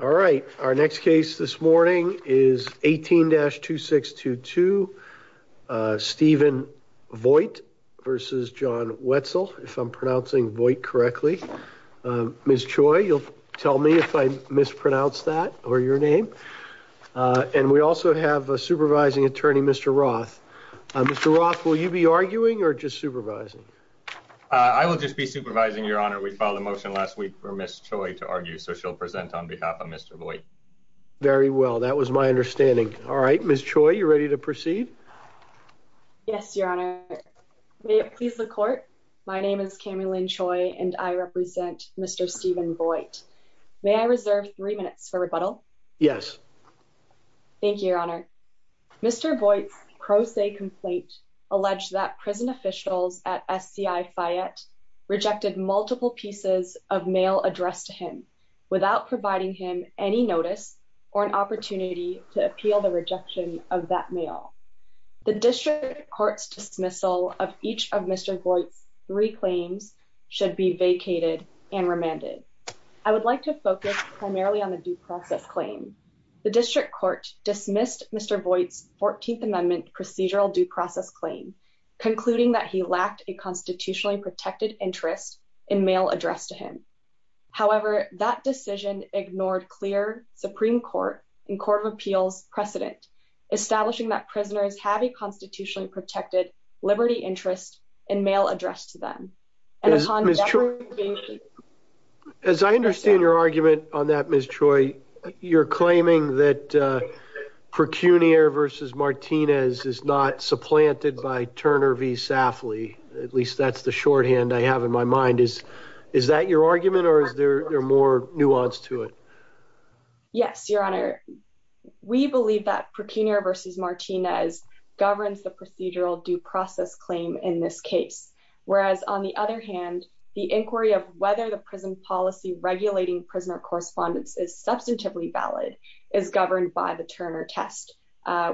All right, our next case this morning is 18-2622, Stephen Voigt v. John Wetzel. If I'm pronouncing Voigt correctly. Ms. Choi, you'll tell me if I mispronounce that or your name. And we also have a supervising attorney, Mr. Roth. Mr. Roth, will you be arguing or just supervising? I will just be supervising, Your Honor. We filed a motion last week for Ms. Choi to argue, so she'll present on behalf of Mr. Voigt. Very well, that was my understanding. All right, Ms. Choi, you're ready to proceed? Yes, Your Honor. May it please the court. My name is Cammy Lynn Choi and I represent Mr. Stephen Voigt. May I reserve three minutes for rebuttal? Yes. Thank you, Your Honor. Mr. Voigt's pro se complaint alleged that prison officials at SCI Fayette rejected multiple pieces of mail addressed to him. Without providing him any notice or an opportunity to appeal the rejection of that mail. The district court's dismissal of each of Mr. Voigt's three claims should be vacated and remanded. I would like to focus primarily on the due process claim. The district court dismissed Mr. Voigt's 14th Amendment procedural due process claim, concluding that he lacked a constitutionally protected interest in mail addressed to him. However, that decision ignored clear Supreme Court and Court of Appeals precedent. Establishing that prisoners have a constitutionally protected liberty interest in mail addressed to them. As I understand your argument on that, Ms. Choi, you're claiming that Procunier v. Martinez is not supplanted by Turner v. Safley. At least that's the shorthand I have in my mind. Is that your argument or is there more nuance to it? Yes, Your Honor. We believe that Procunier v. Martinez governs the procedural due process claim in this case. Whereas on the other hand, the inquiry of whether the prison policy regulating prisoner correspondence is substantively valid is governed by the Turner test,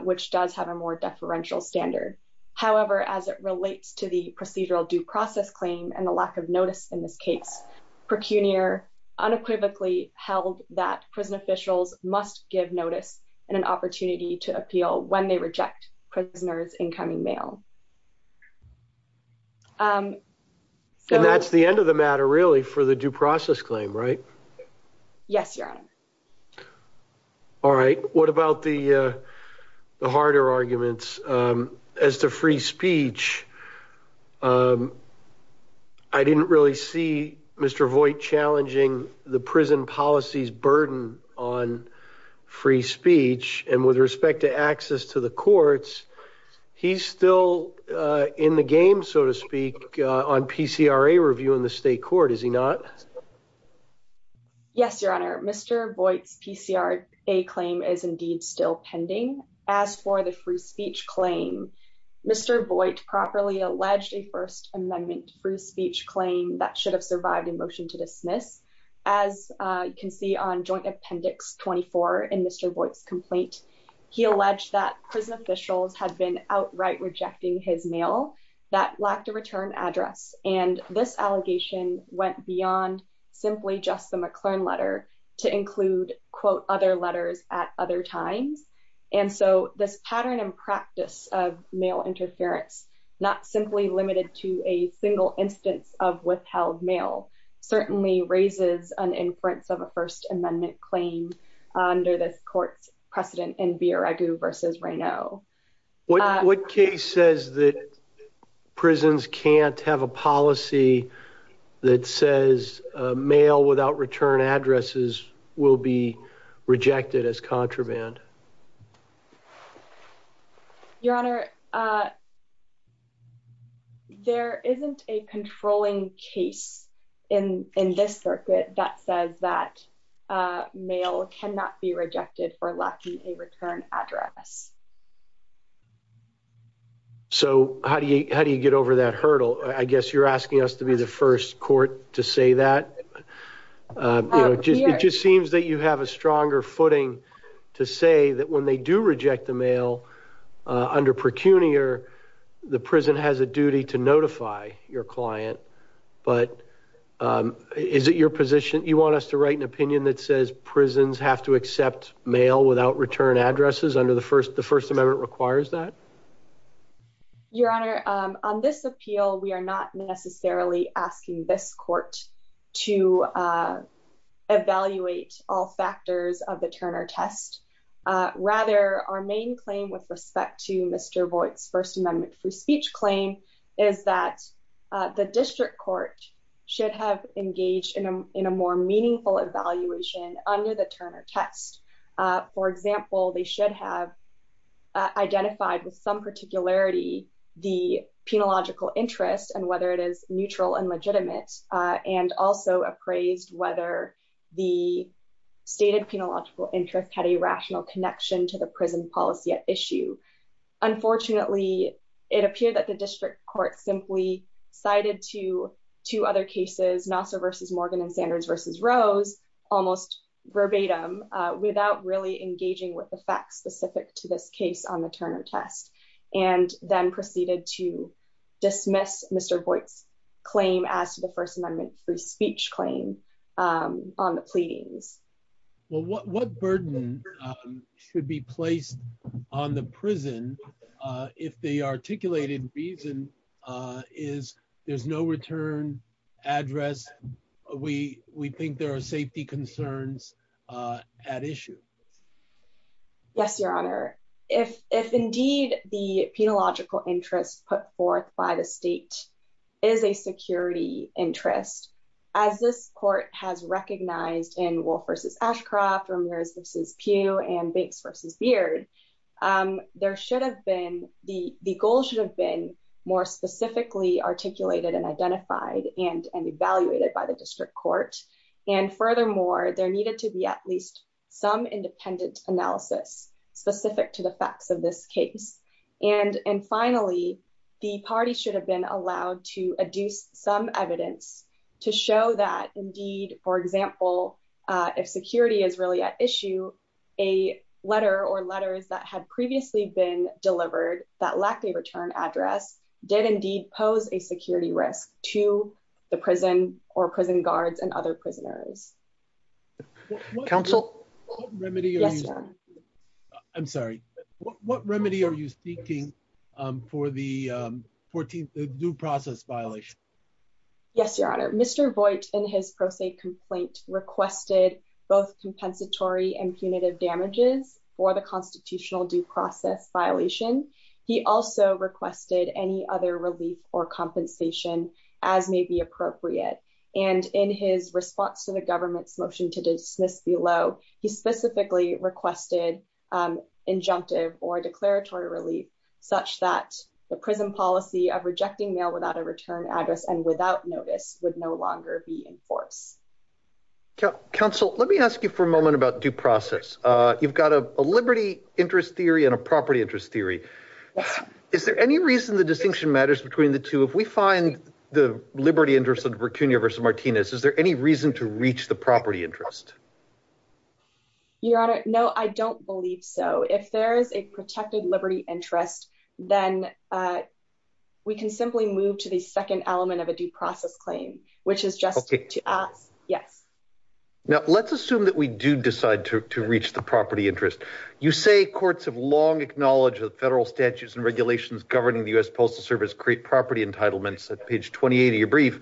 which does have a more deferential standard. However, as it relates to the procedural due process claim and the lack of notice in this case, Procunier unequivocally held that prison officials must give notice and an opportunity to appeal when they reject prisoners' incoming mail. And that's the end of the matter, really, for the due process claim, right? Yes, Your Honor. All right. What about the harder arguments? As to free speech, I didn't really see Mr. Voigt challenging the prison policy's burden on free speech. And with respect to access to the courts, he's still in the game, so to speak, on PCRA review in the state court, is he not? Yes, Your Honor. Mr. Voigt's PCRA claim is indeed still pending. As for the free speech claim, Mr. Voigt properly alleged a First Amendment free speech claim that should have survived a motion to dismiss. As you can see on Joint Appendix 24 in Mr. Voigt's complaint, he alleged that prison officials had been outright rejecting his mail that lacked a return address. And this allegation went beyond simply just the McLern letter to include, quote, other letters at other times. And so this pattern and practice of mail interference, not simply limited to a single instance of withheld mail, certainly raises an inference of a First Amendment claim under this court's precedent in Villaregu versus Raynaud. What case says that prisons can't have a policy that says mail without return addresses will be rejected as contraband? Your Honor, there isn't a controlling case in this circuit that says that mail cannot be rejected for lacking a return address. So how do you get over that hurdle? I guess you're asking us to be the first court to say that. It just seems that you have a stronger footing to say that when they do reject the mail under procunior, the prison has a duty to notify your client. But is it your position? You want us to write an opinion that says prisons have to accept mail without return addresses under the First Amendment requires that? Your Honor, on this appeal, we are not necessarily asking this court to evaluate all factors of the Turner test. Rather, our main claim with respect to Mr. Voight's First Amendment free speech claim is that the district court should have engaged in a more meaningful evaluation under the Turner test. For example, they should have identified with some particularity the penological interest and whether it is neutral and legitimate, and also appraised whether the stated penological interest had a rational connection to the prison policy at issue. Unfortunately, it appeared that the district court simply cited to two other cases, Nassar versus Morgan and Sanders versus Rose, almost verbatim, without really engaging with the facts specific to this case on the Turner test, and then proceeded to dismiss Mr. Voight's claim as to the First Amendment free speech claim on the pleadings. Well, what burden should be placed on the prison if the articulated reason is there's no return address? We think there are safety concerns at issue. Yes, Your Honor. If indeed the penological interest put forth by the state is a security interest, as this court has recognized in Wolf versus Ashcroft, Ramirez versus Pugh, and Banks versus Beard, the goal should have been more specifically articulated and identified and evaluated by the district court. And furthermore, there needed to be at least some independent analysis specific to the facts of this case. And finally, the party should have been allowed to adduce some evidence to show that indeed, for example, if security is really at issue, a letter or letters that had previously been delivered that lacked a return address did indeed pose a security risk to the prison or prison guards and other prisoners. Counsel? I'm sorry, what remedy are you seeking for the 14th due process violation? Yes, Your Honor. Mr. Voigt in his pro se complaint requested both compensatory and punitive damages for the constitutional due process violation. He also requested any other relief or compensation as may be appropriate. And in his response to the government's motion to dismiss below, he specifically requested injunctive or declaratory relief such that the prison policy of rejecting mail without a return address and without notice would no longer be in force. Counsel, let me ask you for a moment about due process. You've got a liberty interest theory and a property interest theory. Is there any reason the distinction matters between the two? If we find the liberty interest of Virginia versus Martinez, is there any reason to reach the property interest? Your Honor, no, I don't believe so. If there is a protected liberty interest, then we can simply move to the second element of a due process claim, which is just to us, yes. Now, let's assume that we do decide to reach the property interest. You say courts have long acknowledged that federal statutes and regulations governing the U.S. Postal Service create property entitlements at page 28 of your brief,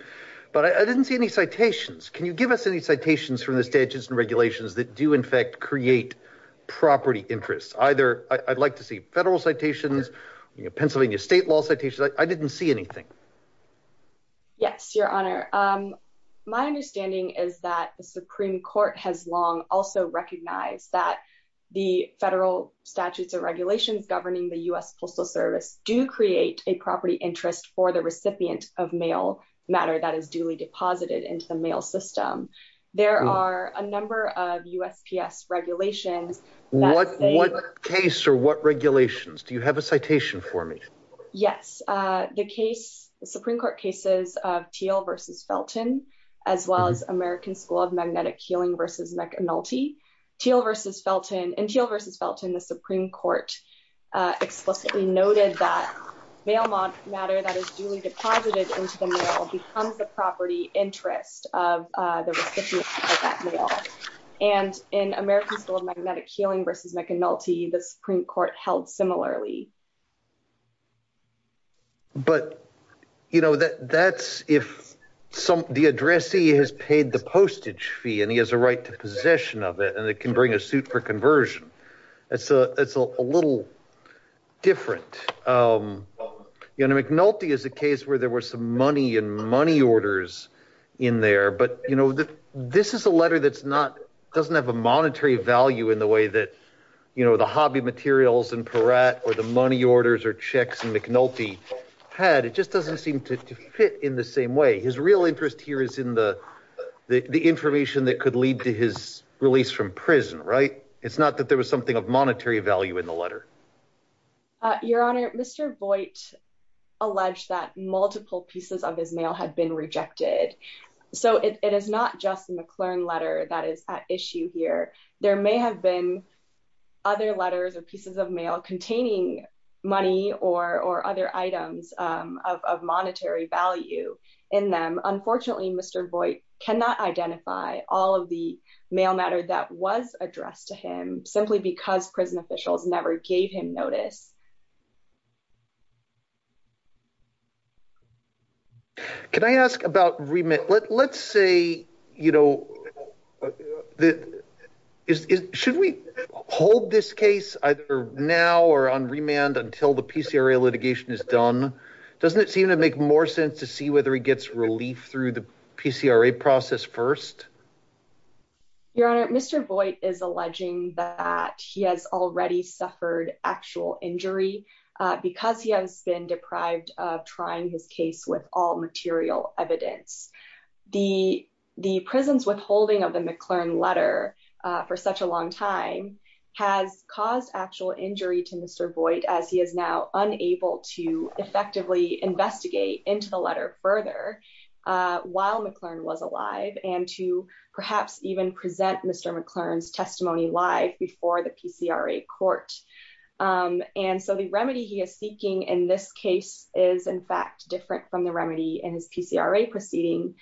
but I didn't see any citations. Can you give us any citations from the statutes and regulations that do in fact create property interests? I'd like to see federal citations, Pennsylvania state law citations. I didn't see anything. Yes, Your Honor. My understanding is that the Supreme Court has long also recognized that the federal statutes and regulations governing the U.S. Postal Service do create a property interest for the recipient of mail matter that is duly deposited into the mail system. There are a number of USPS regulations What case or what regulations? Do you have a citation for me? Yes, the case, the Supreme Court cases of Thiel v. Felton, as well as American School of Magnetic Healing v. McNulty, Thiel v. Felton. In Thiel v. Felton, the Supreme Court explicitly noted that mail matter that is duly deposited into the mail becomes the property interest of the recipient of that mail. And in American School of Magnetic Healing v. McNulty, the Supreme Court held similarly. But, you know, that's if the addressee has paid the postage fee and he has a right to possession of it and it can bring a suit for conversion. It's a little different. You know, McNulty is a case where there were some money and money orders in there. But, you know, this is a letter that doesn't have a monetary value in the way that, you know, the hobby materials in Peratt or the money orders or checks in McNulty had. It just doesn't seem to fit in the same way. His real interest here is in the information that could lead to his release from prison, right? It's not that there was something of monetary value in the letter. Your Honor, Mr. Voight alleged that multiple pieces of his mail had been rejected. So it is not just the McClern letter that is at issue here. There may have been other letters or pieces of mail containing money or other items of monetary value in them. Unfortunately, Mr. Voight cannot identify all of the mail matter that was addressed to him simply because prison officials never gave him notice. Can I ask about remand? Let's say, you know, should we hold this case either now or on remand until the PCRA litigation is done? Doesn't it seem to make more sense to see whether he gets relief through the PCRA process first? Your Honor, Mr. Voight is alleging that he has already suffered actual injuries because he has been deprived of trying his case with all material evidence. The prison's withholding of the McClern letter for such a long time has caused actual injury to Mr. Voight as he is now unable to effectively investigate into the letter further while McClern was alive and to perhaps even present Mr. McClern's testimony live before the PCRA court. And so the remedy he is seeking in this case is in fact different from the remedy in his PCRA proceeding.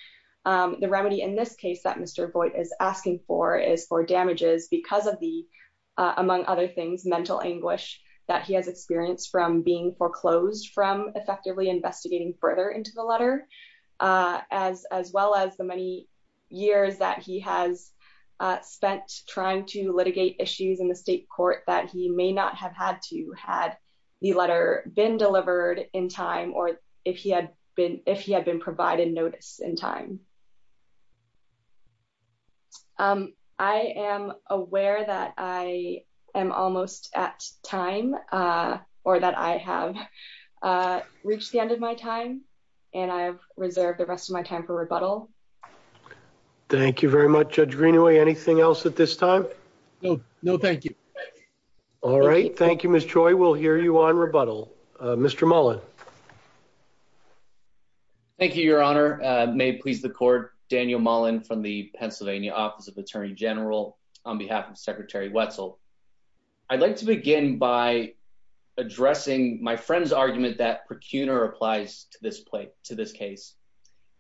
The remedy in this case that Mr. Voight is asking for is for damages because of the, among other things, mental anguish that he has experienced from being foreclosed from effectively investigating further into the letter as well as the many years that he has spent trying to litigate issues in the state court that he may not have had to had the letter been delivered in time or if he had been provided notice in time. I am aware that I am almost at time or that I have reached the end of my time and I've reserved the rest of my time for rebuttal. Thank you very much, Judge Greenaway. Anything else at this time? No, thank you. All right. Thank you, Ms. Choi. We'll hear you on rebuttal. Mr. Mullen. Thank you, Your Honor. May it please the court, Daniel Mullen from the Pennsylvania Office of Attorney General on behalf of Secretary Wetzel. I'd like to begin by addressing my friend's argument that procuner applies to this case.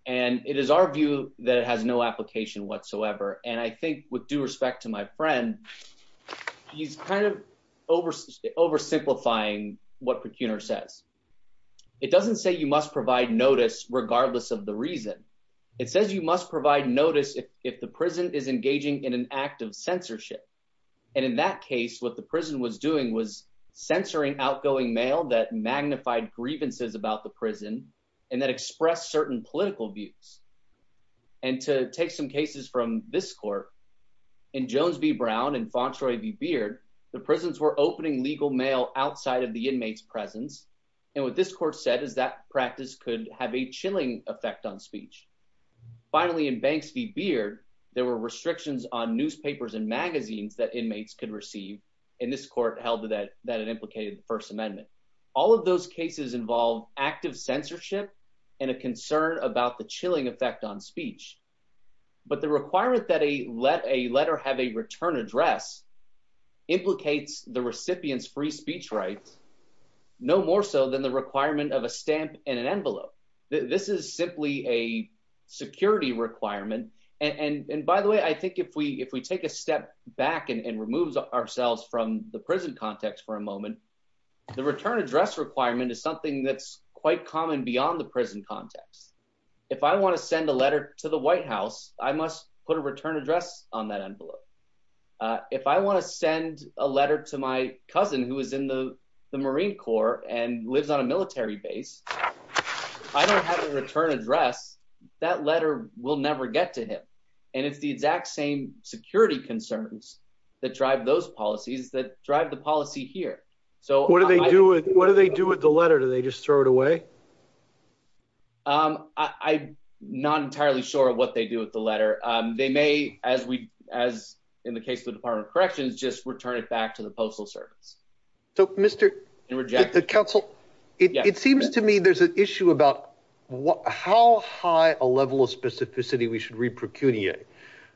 And it is our view that it has no application whatsoever. And I think with due respect to my friend, he's kind of oversimplifying what procuner says. It doesn't say you must provide notice regardless of the reason. It says you must provide notice if the prison is engaging in an act of censorship. And in that case, what the prison was doing was censoring outgoing mail that magnified grievances about the prison and that expressed certain political views. And to take some cases from this court, in Jones v. Brown and Fauntroy v. Beard, the prisons were opening legal mail outside of the inmate's presence. And what this court said is that practice could have a chilling effect on speech. Finally, in Banks v. Beard, there were restrictions on newspapers and magazines that inmates could receive. And this court held that it implicated the First Amendment. All of those cases involve active censorship and a concern about the chilling effect on speech. But the requirement that a letter have a return address implicates the recipient's free speech rights, no more so than the requirement of a stamp and an envelope. This is simply a security requirement. And by the way, I think if we take a step back and remove ourselves from the prison context for a moment, the return address requirement is something that's quite common beyond the prison context. If I wanna send a letter to the White House, I must put a return address on that envelope. If I wanna send a letter to my cousin who is in the Marine Corps and lives on a military base, I don't have a return address, that letter will never get to him. And it's the exact same security concerns that drive those policies that drive the policy here. What do they do with the letter? Do they just throw it away? I'm not entirely sure what they do with the letter. They may, as in the case of the Department of Corrections, just return it back to the Postal Service. So Mr. Counsel, it seems to me there's an issue about how high a level of specificity we should re-procuniate.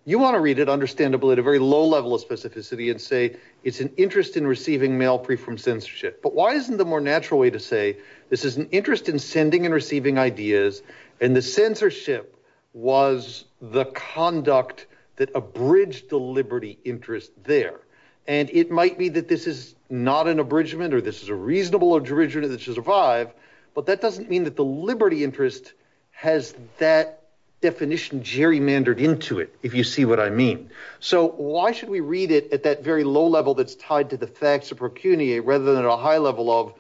You wanna read it understandably at a very low level of specificity and say it's an interest in receiving mail free from censorship. But why isn't the more natural way to say this is an interest in sending and receiving ideas and the censorship was the conduct that abridged the liberty interest there? And it might be that this is not an abridgment or this is a reasonable abridgment that should survive, but that doesn't mean that the liberty interest has that definition gerrymandered into it, if you see what I mean. So why should we read it at that very low level that's tied to the facts of procuniate rather than at a high level of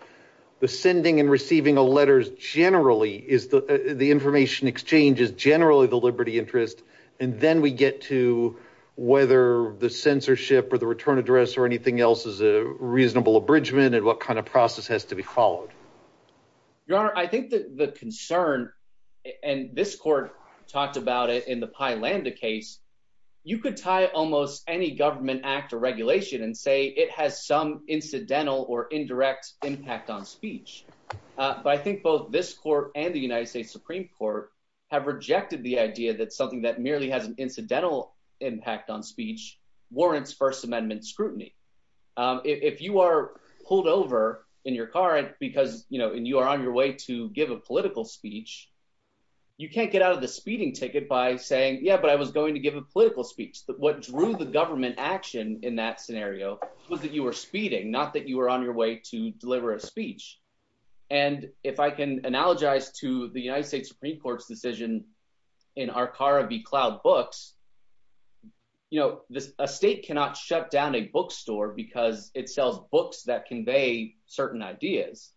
the sending and receiving of letters generally is the information exchange is generally the liberty interest. And then we get to whether the censorship or the return address or anything else is a reasonable abridgment and what kind of process has to be followed. Your Honor, I think that the concern and this court talked about it in the Pi Lambda case, you could tie almost any government act or regulation and say it has some incidental or indirect impact on speech. But I think both this court and the United States Supreme Court have rejected the idea that something that merely has an incidental impact on speech warrants First Amendment scrutiny. If you are pulled over in your car because you are on your way to give a political speech, you can't get out of the speeding ticket by saying, yeah, but I was going to give a political speech. What drew the government action in that scenario was that you were speeding, not that you were on your way to deliver a speech. And if I can analogize to the United States Supreme Court's decision in Arcara v. Cloud Books, you know, a state cannot shut down a bookstore because it sells books that convey certain ideas,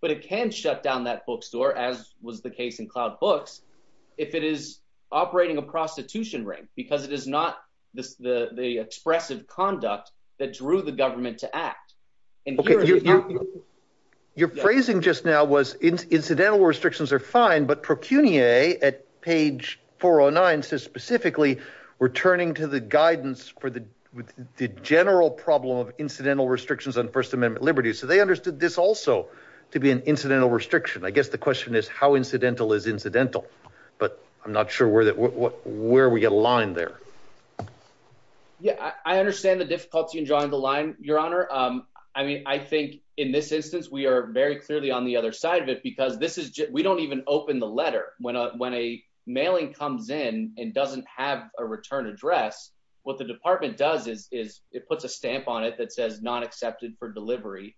but it can shut down that bookstore, as was the case in Cloud Books, if it is operating a prostitution ring, because it is not the expressive conduct that drew the government to act. Your phrasing just now was incidental restrictions are fine, but Procunier at page 409 says specifically, we're turning to the guidance for the general problem of incidental restrictions on First Amendment liberties. So they understood this also to be an incidental restriction. I guess the question is how incidental is incidental, but I'm not sure where we align there. Yeah, I understand the difficulty in drawing the line, Your Honor. I mean, I think in this instance, we are very clearly on the other side of it because we don't even open the letter when a mailing comes in and doesn't have a return address. What the department does is it puts a stamp on it that says not accepted for delivery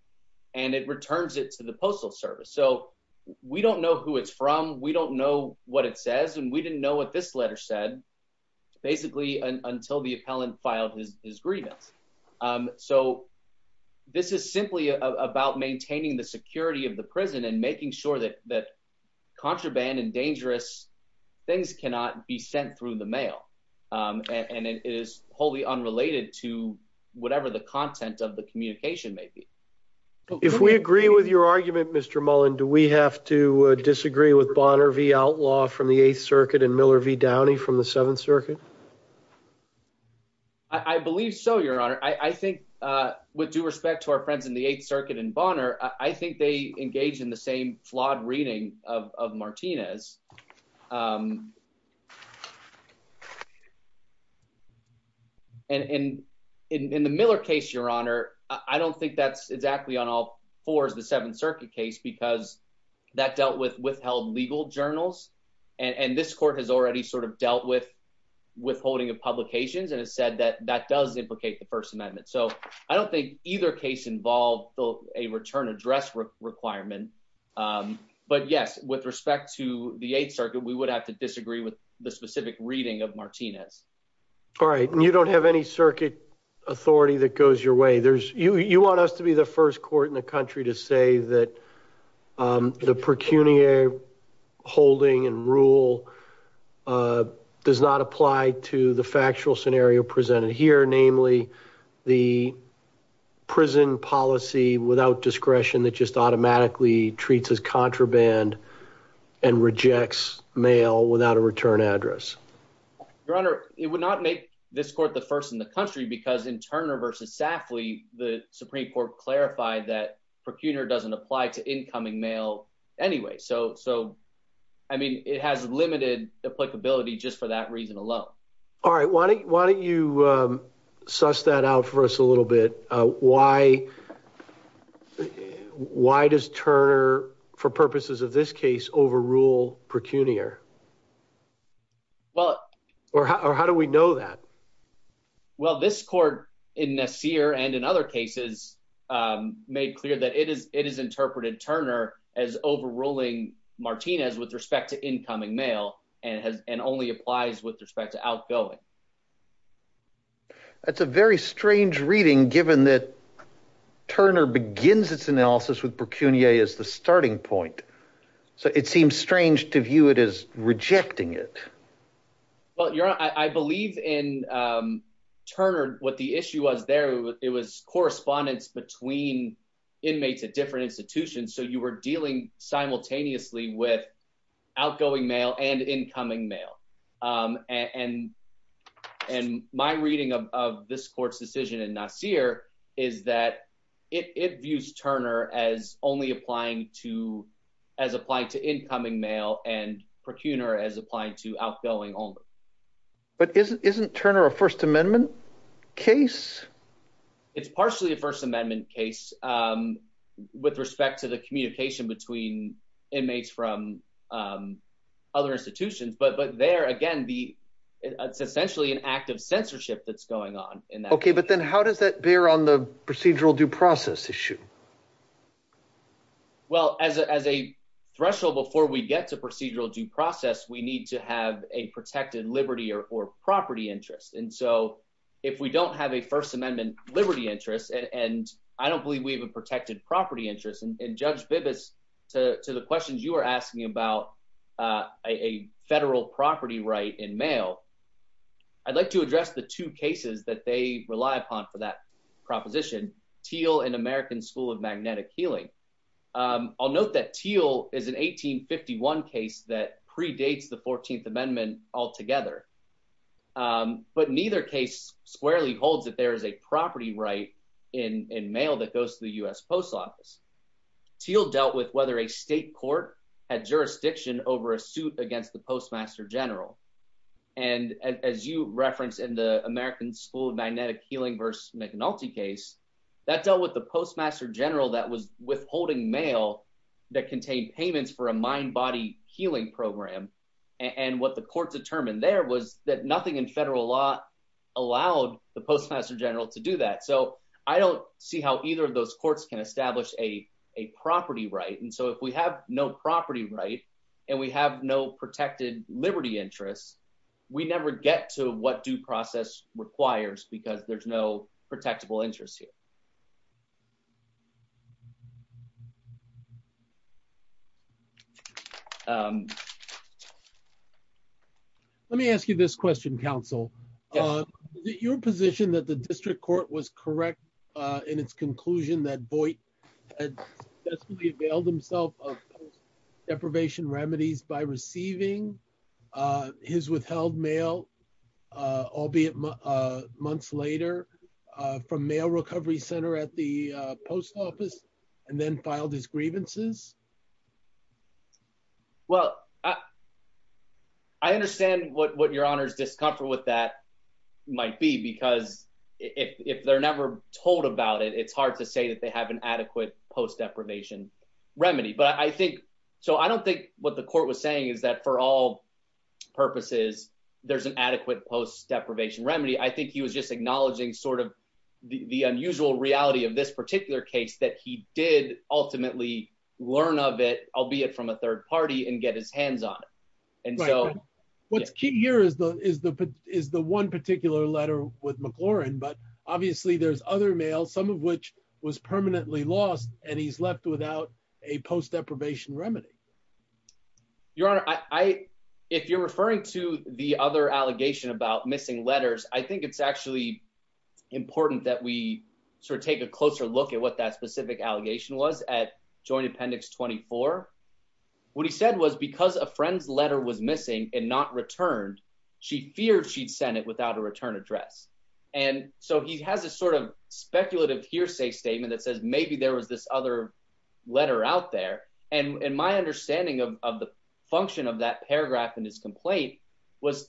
and it returns it to the Postal Service. So we don't know who it's from. We don't know what it says. And we didn't know what this letter said, basically until the appellant filed his grievance. So this is simply about maintaining the security of the prison and making sure that contraband and dangerous things cannot be sent through the mail. And it is wholly unrelated to whatever the content of the communication may be. If we agree with your argument, Mr. Mullen, do we have to disagree with Bonner v. Outlaw from the Eighth Circuit and Miller v. Downey from the Seventh Circuit? I believe so, Your Honor. I think with due respect to our friends in the Eighth Circuit and Bonner, I think they engage in the same flawed reading of Martinez. And in the Miller case, Your Honor, I don't think that's exactly on all four is the Seventh Circuit case because that dealt with withheld legal journals and this court has already sort of dealt with withholding of publications and has said that that does implicate the First Amendment. So I don't think either case involved a return address requirement. But yes, with respect to the Eighth Circuit, we would have to disagree with the specific reading of Martinez. All right. And you don't have any circuit authority that goes your way. You want us to be the first court in the country to say that the pecuniary holding and rule does not apply to the factual scenario presented here, namely the prison policy without discretion that just automatically treats as contraband and rejects mail without a return address. Your Honor, it would not make this court the first in the country because in Turner versus Safley, the Supreme Court clarified that pecuniary doesn't apply to incoming mail anyway. So I mean, it has limited applicability just for that reason alone. All right. Why don't you suss that out for us a little bit? Why does Turner, for purposes of this case, overrule pecuniary? Well, or how do we know that? Well, this court in Nassir and in other cases made clear that it is interpreted Turner as overruling Martinez with respect to incoming mail and only applies with respect to outgoing. That's a very strange reading, given that Turner begins its analysis with pecuniary as the starting point. So it seems strange to view it as rejecting it. Well, Your Honor, I believe in Turner, what the issue was there, it was correspondence between inmates at different institutions. So you were dealing simultaneously with outgoing mail and incoming mail. And and my reading of this court's decision in Nassir is that it views Turner as only applying to as applying to incoming mail and pecuniary as applying to outgoing only. But isn't Turner a First Amendment case? It's partially a First Amendment case. With respect to the communication between inmates from other institutions, but but there again, the it's essentially an act of censorship that's going on in that. OK, but then how does that bear on the procedural due process issue? Well, as a threshold before we get to procedural due process, we need to have a protected liberty or property interest. And so if we don't have a First Amendment liberty interest, and I don't believe we have a protected property interest in Judge Bibas to the questions you are asking about a federal property right in mail. I'd like to address the two cases that they rely upon for that proposition. Teal and American School of Magnetic Healing. I'll note that Teal is an 1851 case that predates the 14th Amendment altogether. But neither case squarely holds that there is a property right in mail that goes to the US Post Office. Teal dealt with whether a state court had jurisdiction over a suit against the Postmaster General. And as you reference in the American School of Magnetic Healing versus McNulty case, that dealt with the Postmaster General that was withholding mail that contained payments for a mind body healing program. And what the court determined there was that nothing in federal law allowed the Postmaster General to do that. So I don't see how either of those courts can establish a property right. And so if we have no property right and we have no protected liberty interests, we never get to what due process requires because there's no protectable interest here. Let me ask you this question, counsel. Your position that the district court was correct in its conclusion that Boyd had availed himself of deprivation remedies by receiving his withheld mail, albeit months later, from Mail Recovery Center at the Post Office and then filed his grievances? Well, I understand what your honor's discomfort with that might be, because if they're never told about it, it's hard to say that they have an adequate post deprivation remedy. But I think so. I don't think what the court was saying is that for all purposes, there's an adequate post deprivation remedy. I think he was just acknowledging sort of the unusual reality of this particular case that he did ultimately learn of it, albeit from a third party and get his hands on it. And so what's key here is the one particular letter with McLaurin. But obviously there's other mail, some of which was permanently lost, and he's left without a post deprivation remedy. Your honor, if you're referring to the other allegation about missing letters, I think it's actually important that we sort of take a closer look at what that specific allegation was at Joint Appendix 24. What he said was because a friend's letter was missing and not returned, she feared she'd send it without a return address. And so he has a sort of speculative hearsay statement that says maybe there was this other letter out there. And my understanding of the function of that paragraph in his complaint was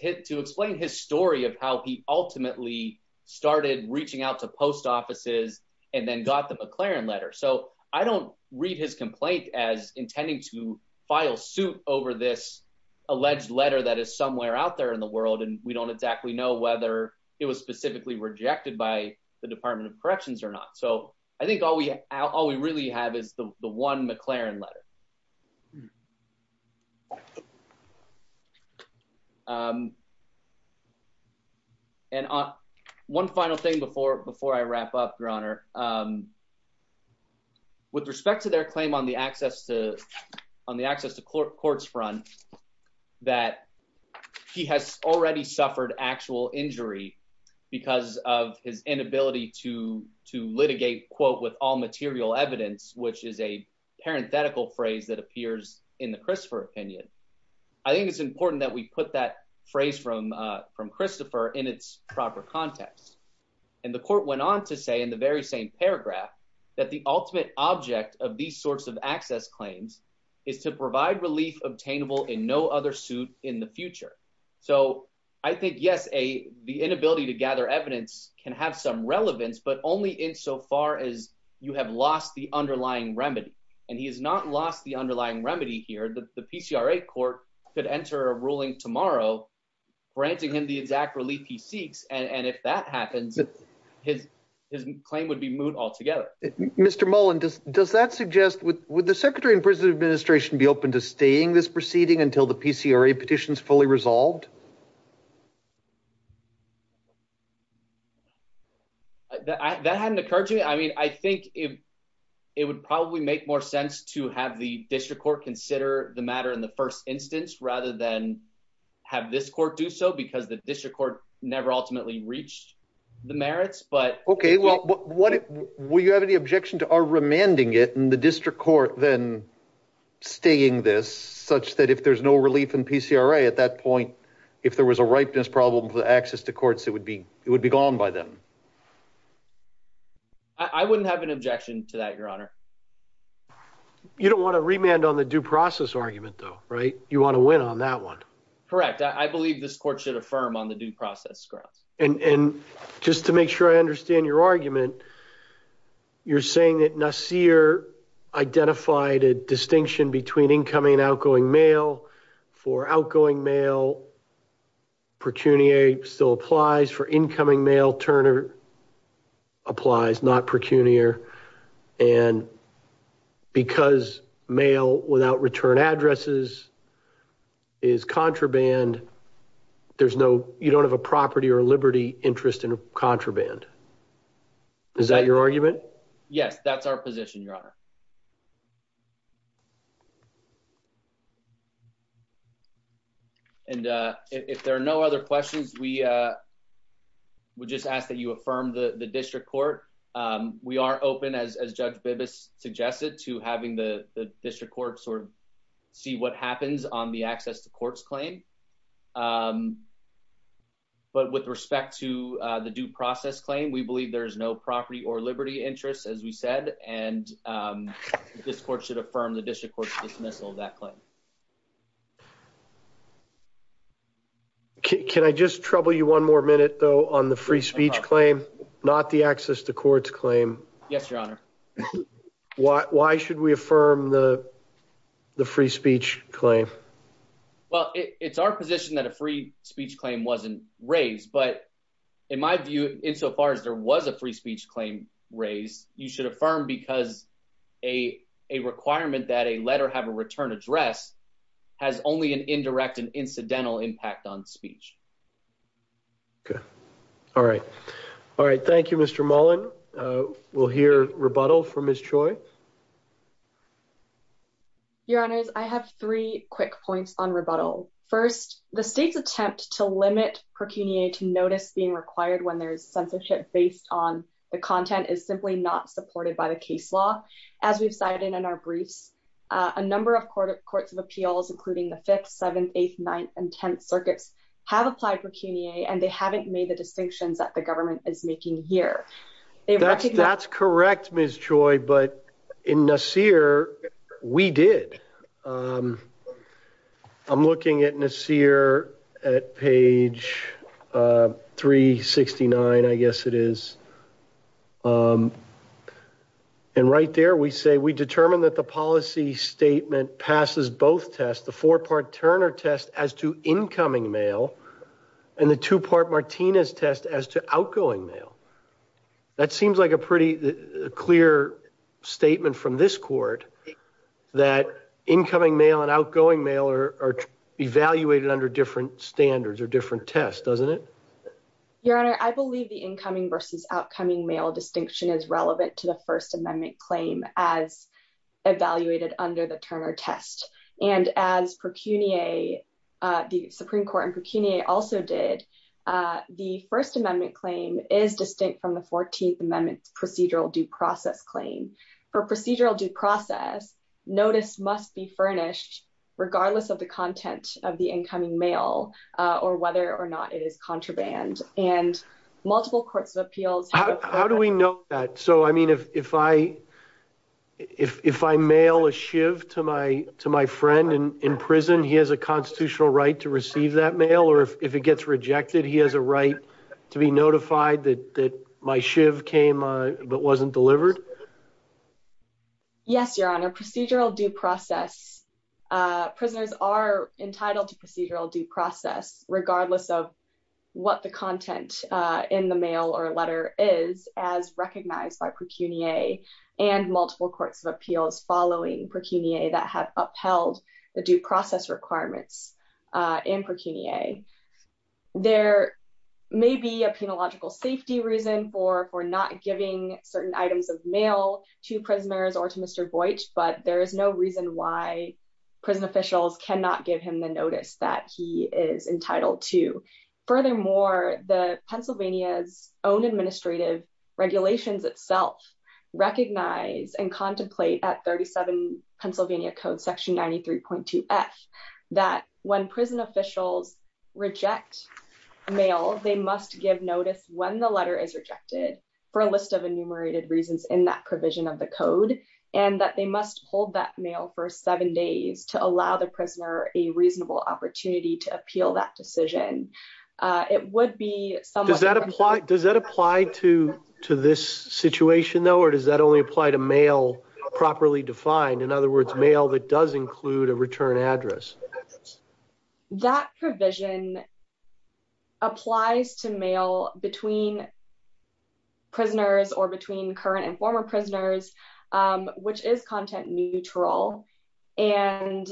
to explain his story of how he ultimately started reaching out to post offices and then got the McLaurin letter. So I don't read his complaint as intending to file suit over this alleged letter that is somewhere out there in the world, and we don't exactly know whether it was specifically rejected by the Department of Corrections or not. So I think all we really have is the one McLaurin letter. And one final thing before I wrap up, your honor. With respect to their claim on the access to courts front, that he has already suffered actual injury because of his inability to litigate, quote, with all material evidence, which is a parenthetical phrase that appears in the Christopher opinion. I think it's important that we put that phrase from Christopher in its proper context. And the court went on to say in the very same paragraph that the ultimate object of these sorts of access claims is to provide relief obtainable in no other suit in the future. So I think, yes, the inability to gather evidence can have some relevance, but only in so far as you have lost the underlying remedy. And he has not lost the underlying remedy here. The PCRA court could enter a ruling tomorrow, granting him the exact relief he seeks. And if that happens, his claim would be moved altogether. Mr. Mullen, does that suggest would the secretary and president administration be open to staying this proceeding until the PCRA petition is fully resolved? That hadn't occurred to me. I mean, I think if it would probably make more sense to have the district court consider the matter in the first instance, rather than have this court do so, because the district court never ultimately reached the merits. But OK, well, what will you have any objection to our remanding it in the district court than staying this such that if there's no relief in PCRA at that point, if there was a ripeness problem with access to courts, it would be it would be gone by them. I wouldn't have an objection to that, Your Honor. You don't want to remand on the due process argument, though, right? You want to win on that one. Correct. I believe this court should affirm on the due process grounds. And just to make sure I understand your argument, you're saying that Nasir identified a distinction between incoming and outgoing mail for outgoing mail. Pecuniary still applies for incoming mail. Turner applies not pecuniar. And because mail without return addresses is contraband, there's no you don't have a property or liberty interest in contraband. Is that your argument? Yes, that's our position, Your Honor. And if there are no other questions, we would just ask that you affirm the district court. We are open, as Judge Bibas suggested, to having the district courts or see what happens on the access to courts claim. But with respect to the due process claim, we believe there is no property or liberty interest, as we said. And this court should affirm the district court's dismissal of that claim. Can I just trouble you one more minute, though, on the free speech claim, not the access to courts claim? Yes, Your Honor. Why should we affirm the free speech claim? Well, it's our position that a free speech claim wasn't raised. But in my view, insofar as there was a free speech claim raised, you should affirm because a requirement that a letter have a return address has only an indirect and incidental impact on speech. Okay, all right. All right. Thank you, Mr. Mullen. We'll hear rebuttal from Ms. Choi. Your Honors, I have three quick points on rebuttal. First, the state's attempt to limit procuniae to notice being required when there's censorship based on the content is simply not supported by the case law. As we've cited in our briefs, a number of courts of appeals, including the 5th, 7th, 8th, 9th, and 10th circuits have applied procuniae and they haven't made the distinctions that the government is making here. That's correct, Ms. Choi. But in Nasir, we did. I'm looking at Nasir at page 369, I guess it is. And right there, we say, we determined that the policy statement passes both tests, the four-part Turner test as to incoming mail and the two-part Martinez test as to outgoing mail. That seems like a pretty clear statement from this court that incoming mail and outgoing mail are evaluated under different standards or different tests, doesn't it? Your Honor, I believe the incoming versus outcoming mail distinction is relevant to the First Amendment claim as evaluated under the Turner test. And as procuniae, the Supreme Court and procuniae also did, the First Amendment claim is distinct from the 14th Amendment procedural due process claim. For procedural due process, notice must be furnished regardless of the content of the incoming mail or whether or not it is contraband. And multiple courts of appeals- How do we know that? So, I mean, if I mail a shiv to my friend in prison, he has a constitutional right to receive that mail or if it gets rejected, he has a right to be notified that my shiv came but wasn't delivered? Yes, Your Honor, procedural due process. Prisoners are entitled to procedural due process regardless of what the content in the mail or letter is as recognized by procuniae and multiple courts of appeals following procuniae that have upheld the due process requirements in procuniae. There may be a penological safety reason for not giving certain items of mail to prisoners or to Mr. Boych, but there is no reason why prison officials cannot give him the notice that he is entitled to. Furthermore, the Pennsylvania's own administrative regulations itself recognize and contemplate at 37 Pennsylvania Code Section 93.2F that when prison officials reject mail, they must give notice when the letter is rejected for a list of enumerated reasons in that provision of the code and that they must hold that mail for seven days to allow the prisoner a reasonable opportunity to appeal that decision. It would be somewhat. Does that apply to this situation though, or does that only apply to mail properly defined? In other words, mail that does include a return address. That provision applies to mail between prisoners or between current and former prisoners, which is content neutral. And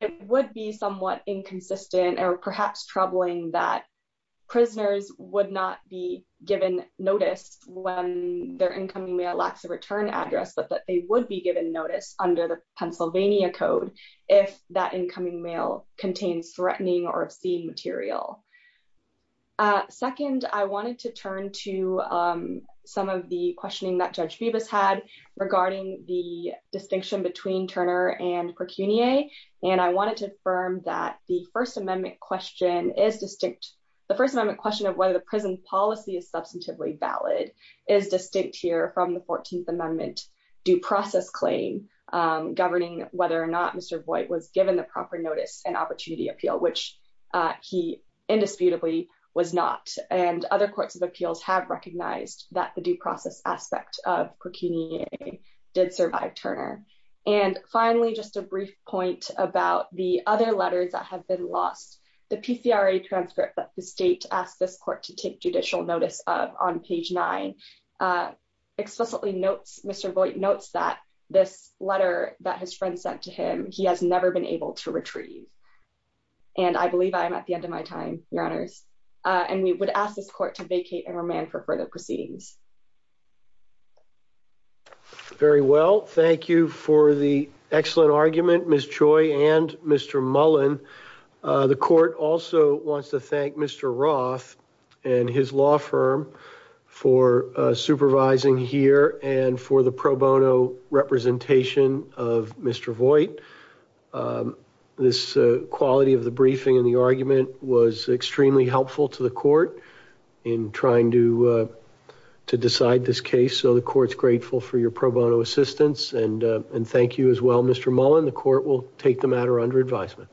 it would be somewhat inconsistent or perhaps troubling that prisoners would not be given notice when their incoming mail lacks a return address, but that they would be given notice under the Pennsylvania Code if that incoming mail contains threatening or obscene material. some of the questioning that Judge Bibas had regarding the distinction between Turner and Percunie, and I wanted to affirm that the First Amendment question is distinct. The First Amendment question of whether the prison policy is substantively valid is distinct here from the 14th Amendment due process claim governing whether or not Mr. Voight was given the proper notice and opportunity appeal, which he indisputably was not. And other courts of appeals have recognized that the due process aspect of Percunie did survive Turner. And finally, just a brief point about the other letters that have been lost. The PCRA transcript that the state asked this court to take judicial notice of on page nine explicitly notes, Mr. Voight notes that this letter that his friend sent to him, he has never been able to retrieve. And I believe I am at the end of my time, Your Honors, and we would ask this court to vacate and remand for further proceedings. Very well. Thank you for the excellent argument, Ms. Choi and Mr. Mullen. The court also wants to thank Mr. Roth and his law firm for supervising here and for the pro bono representation of Mr. Voight. This quality of the briefing and the argument was extremely helpful to the court in trying to to decide this case. So the court's grateful for your pro bono assistance and thank you as well, Mr. Mullen. The court will take the matter under advisement.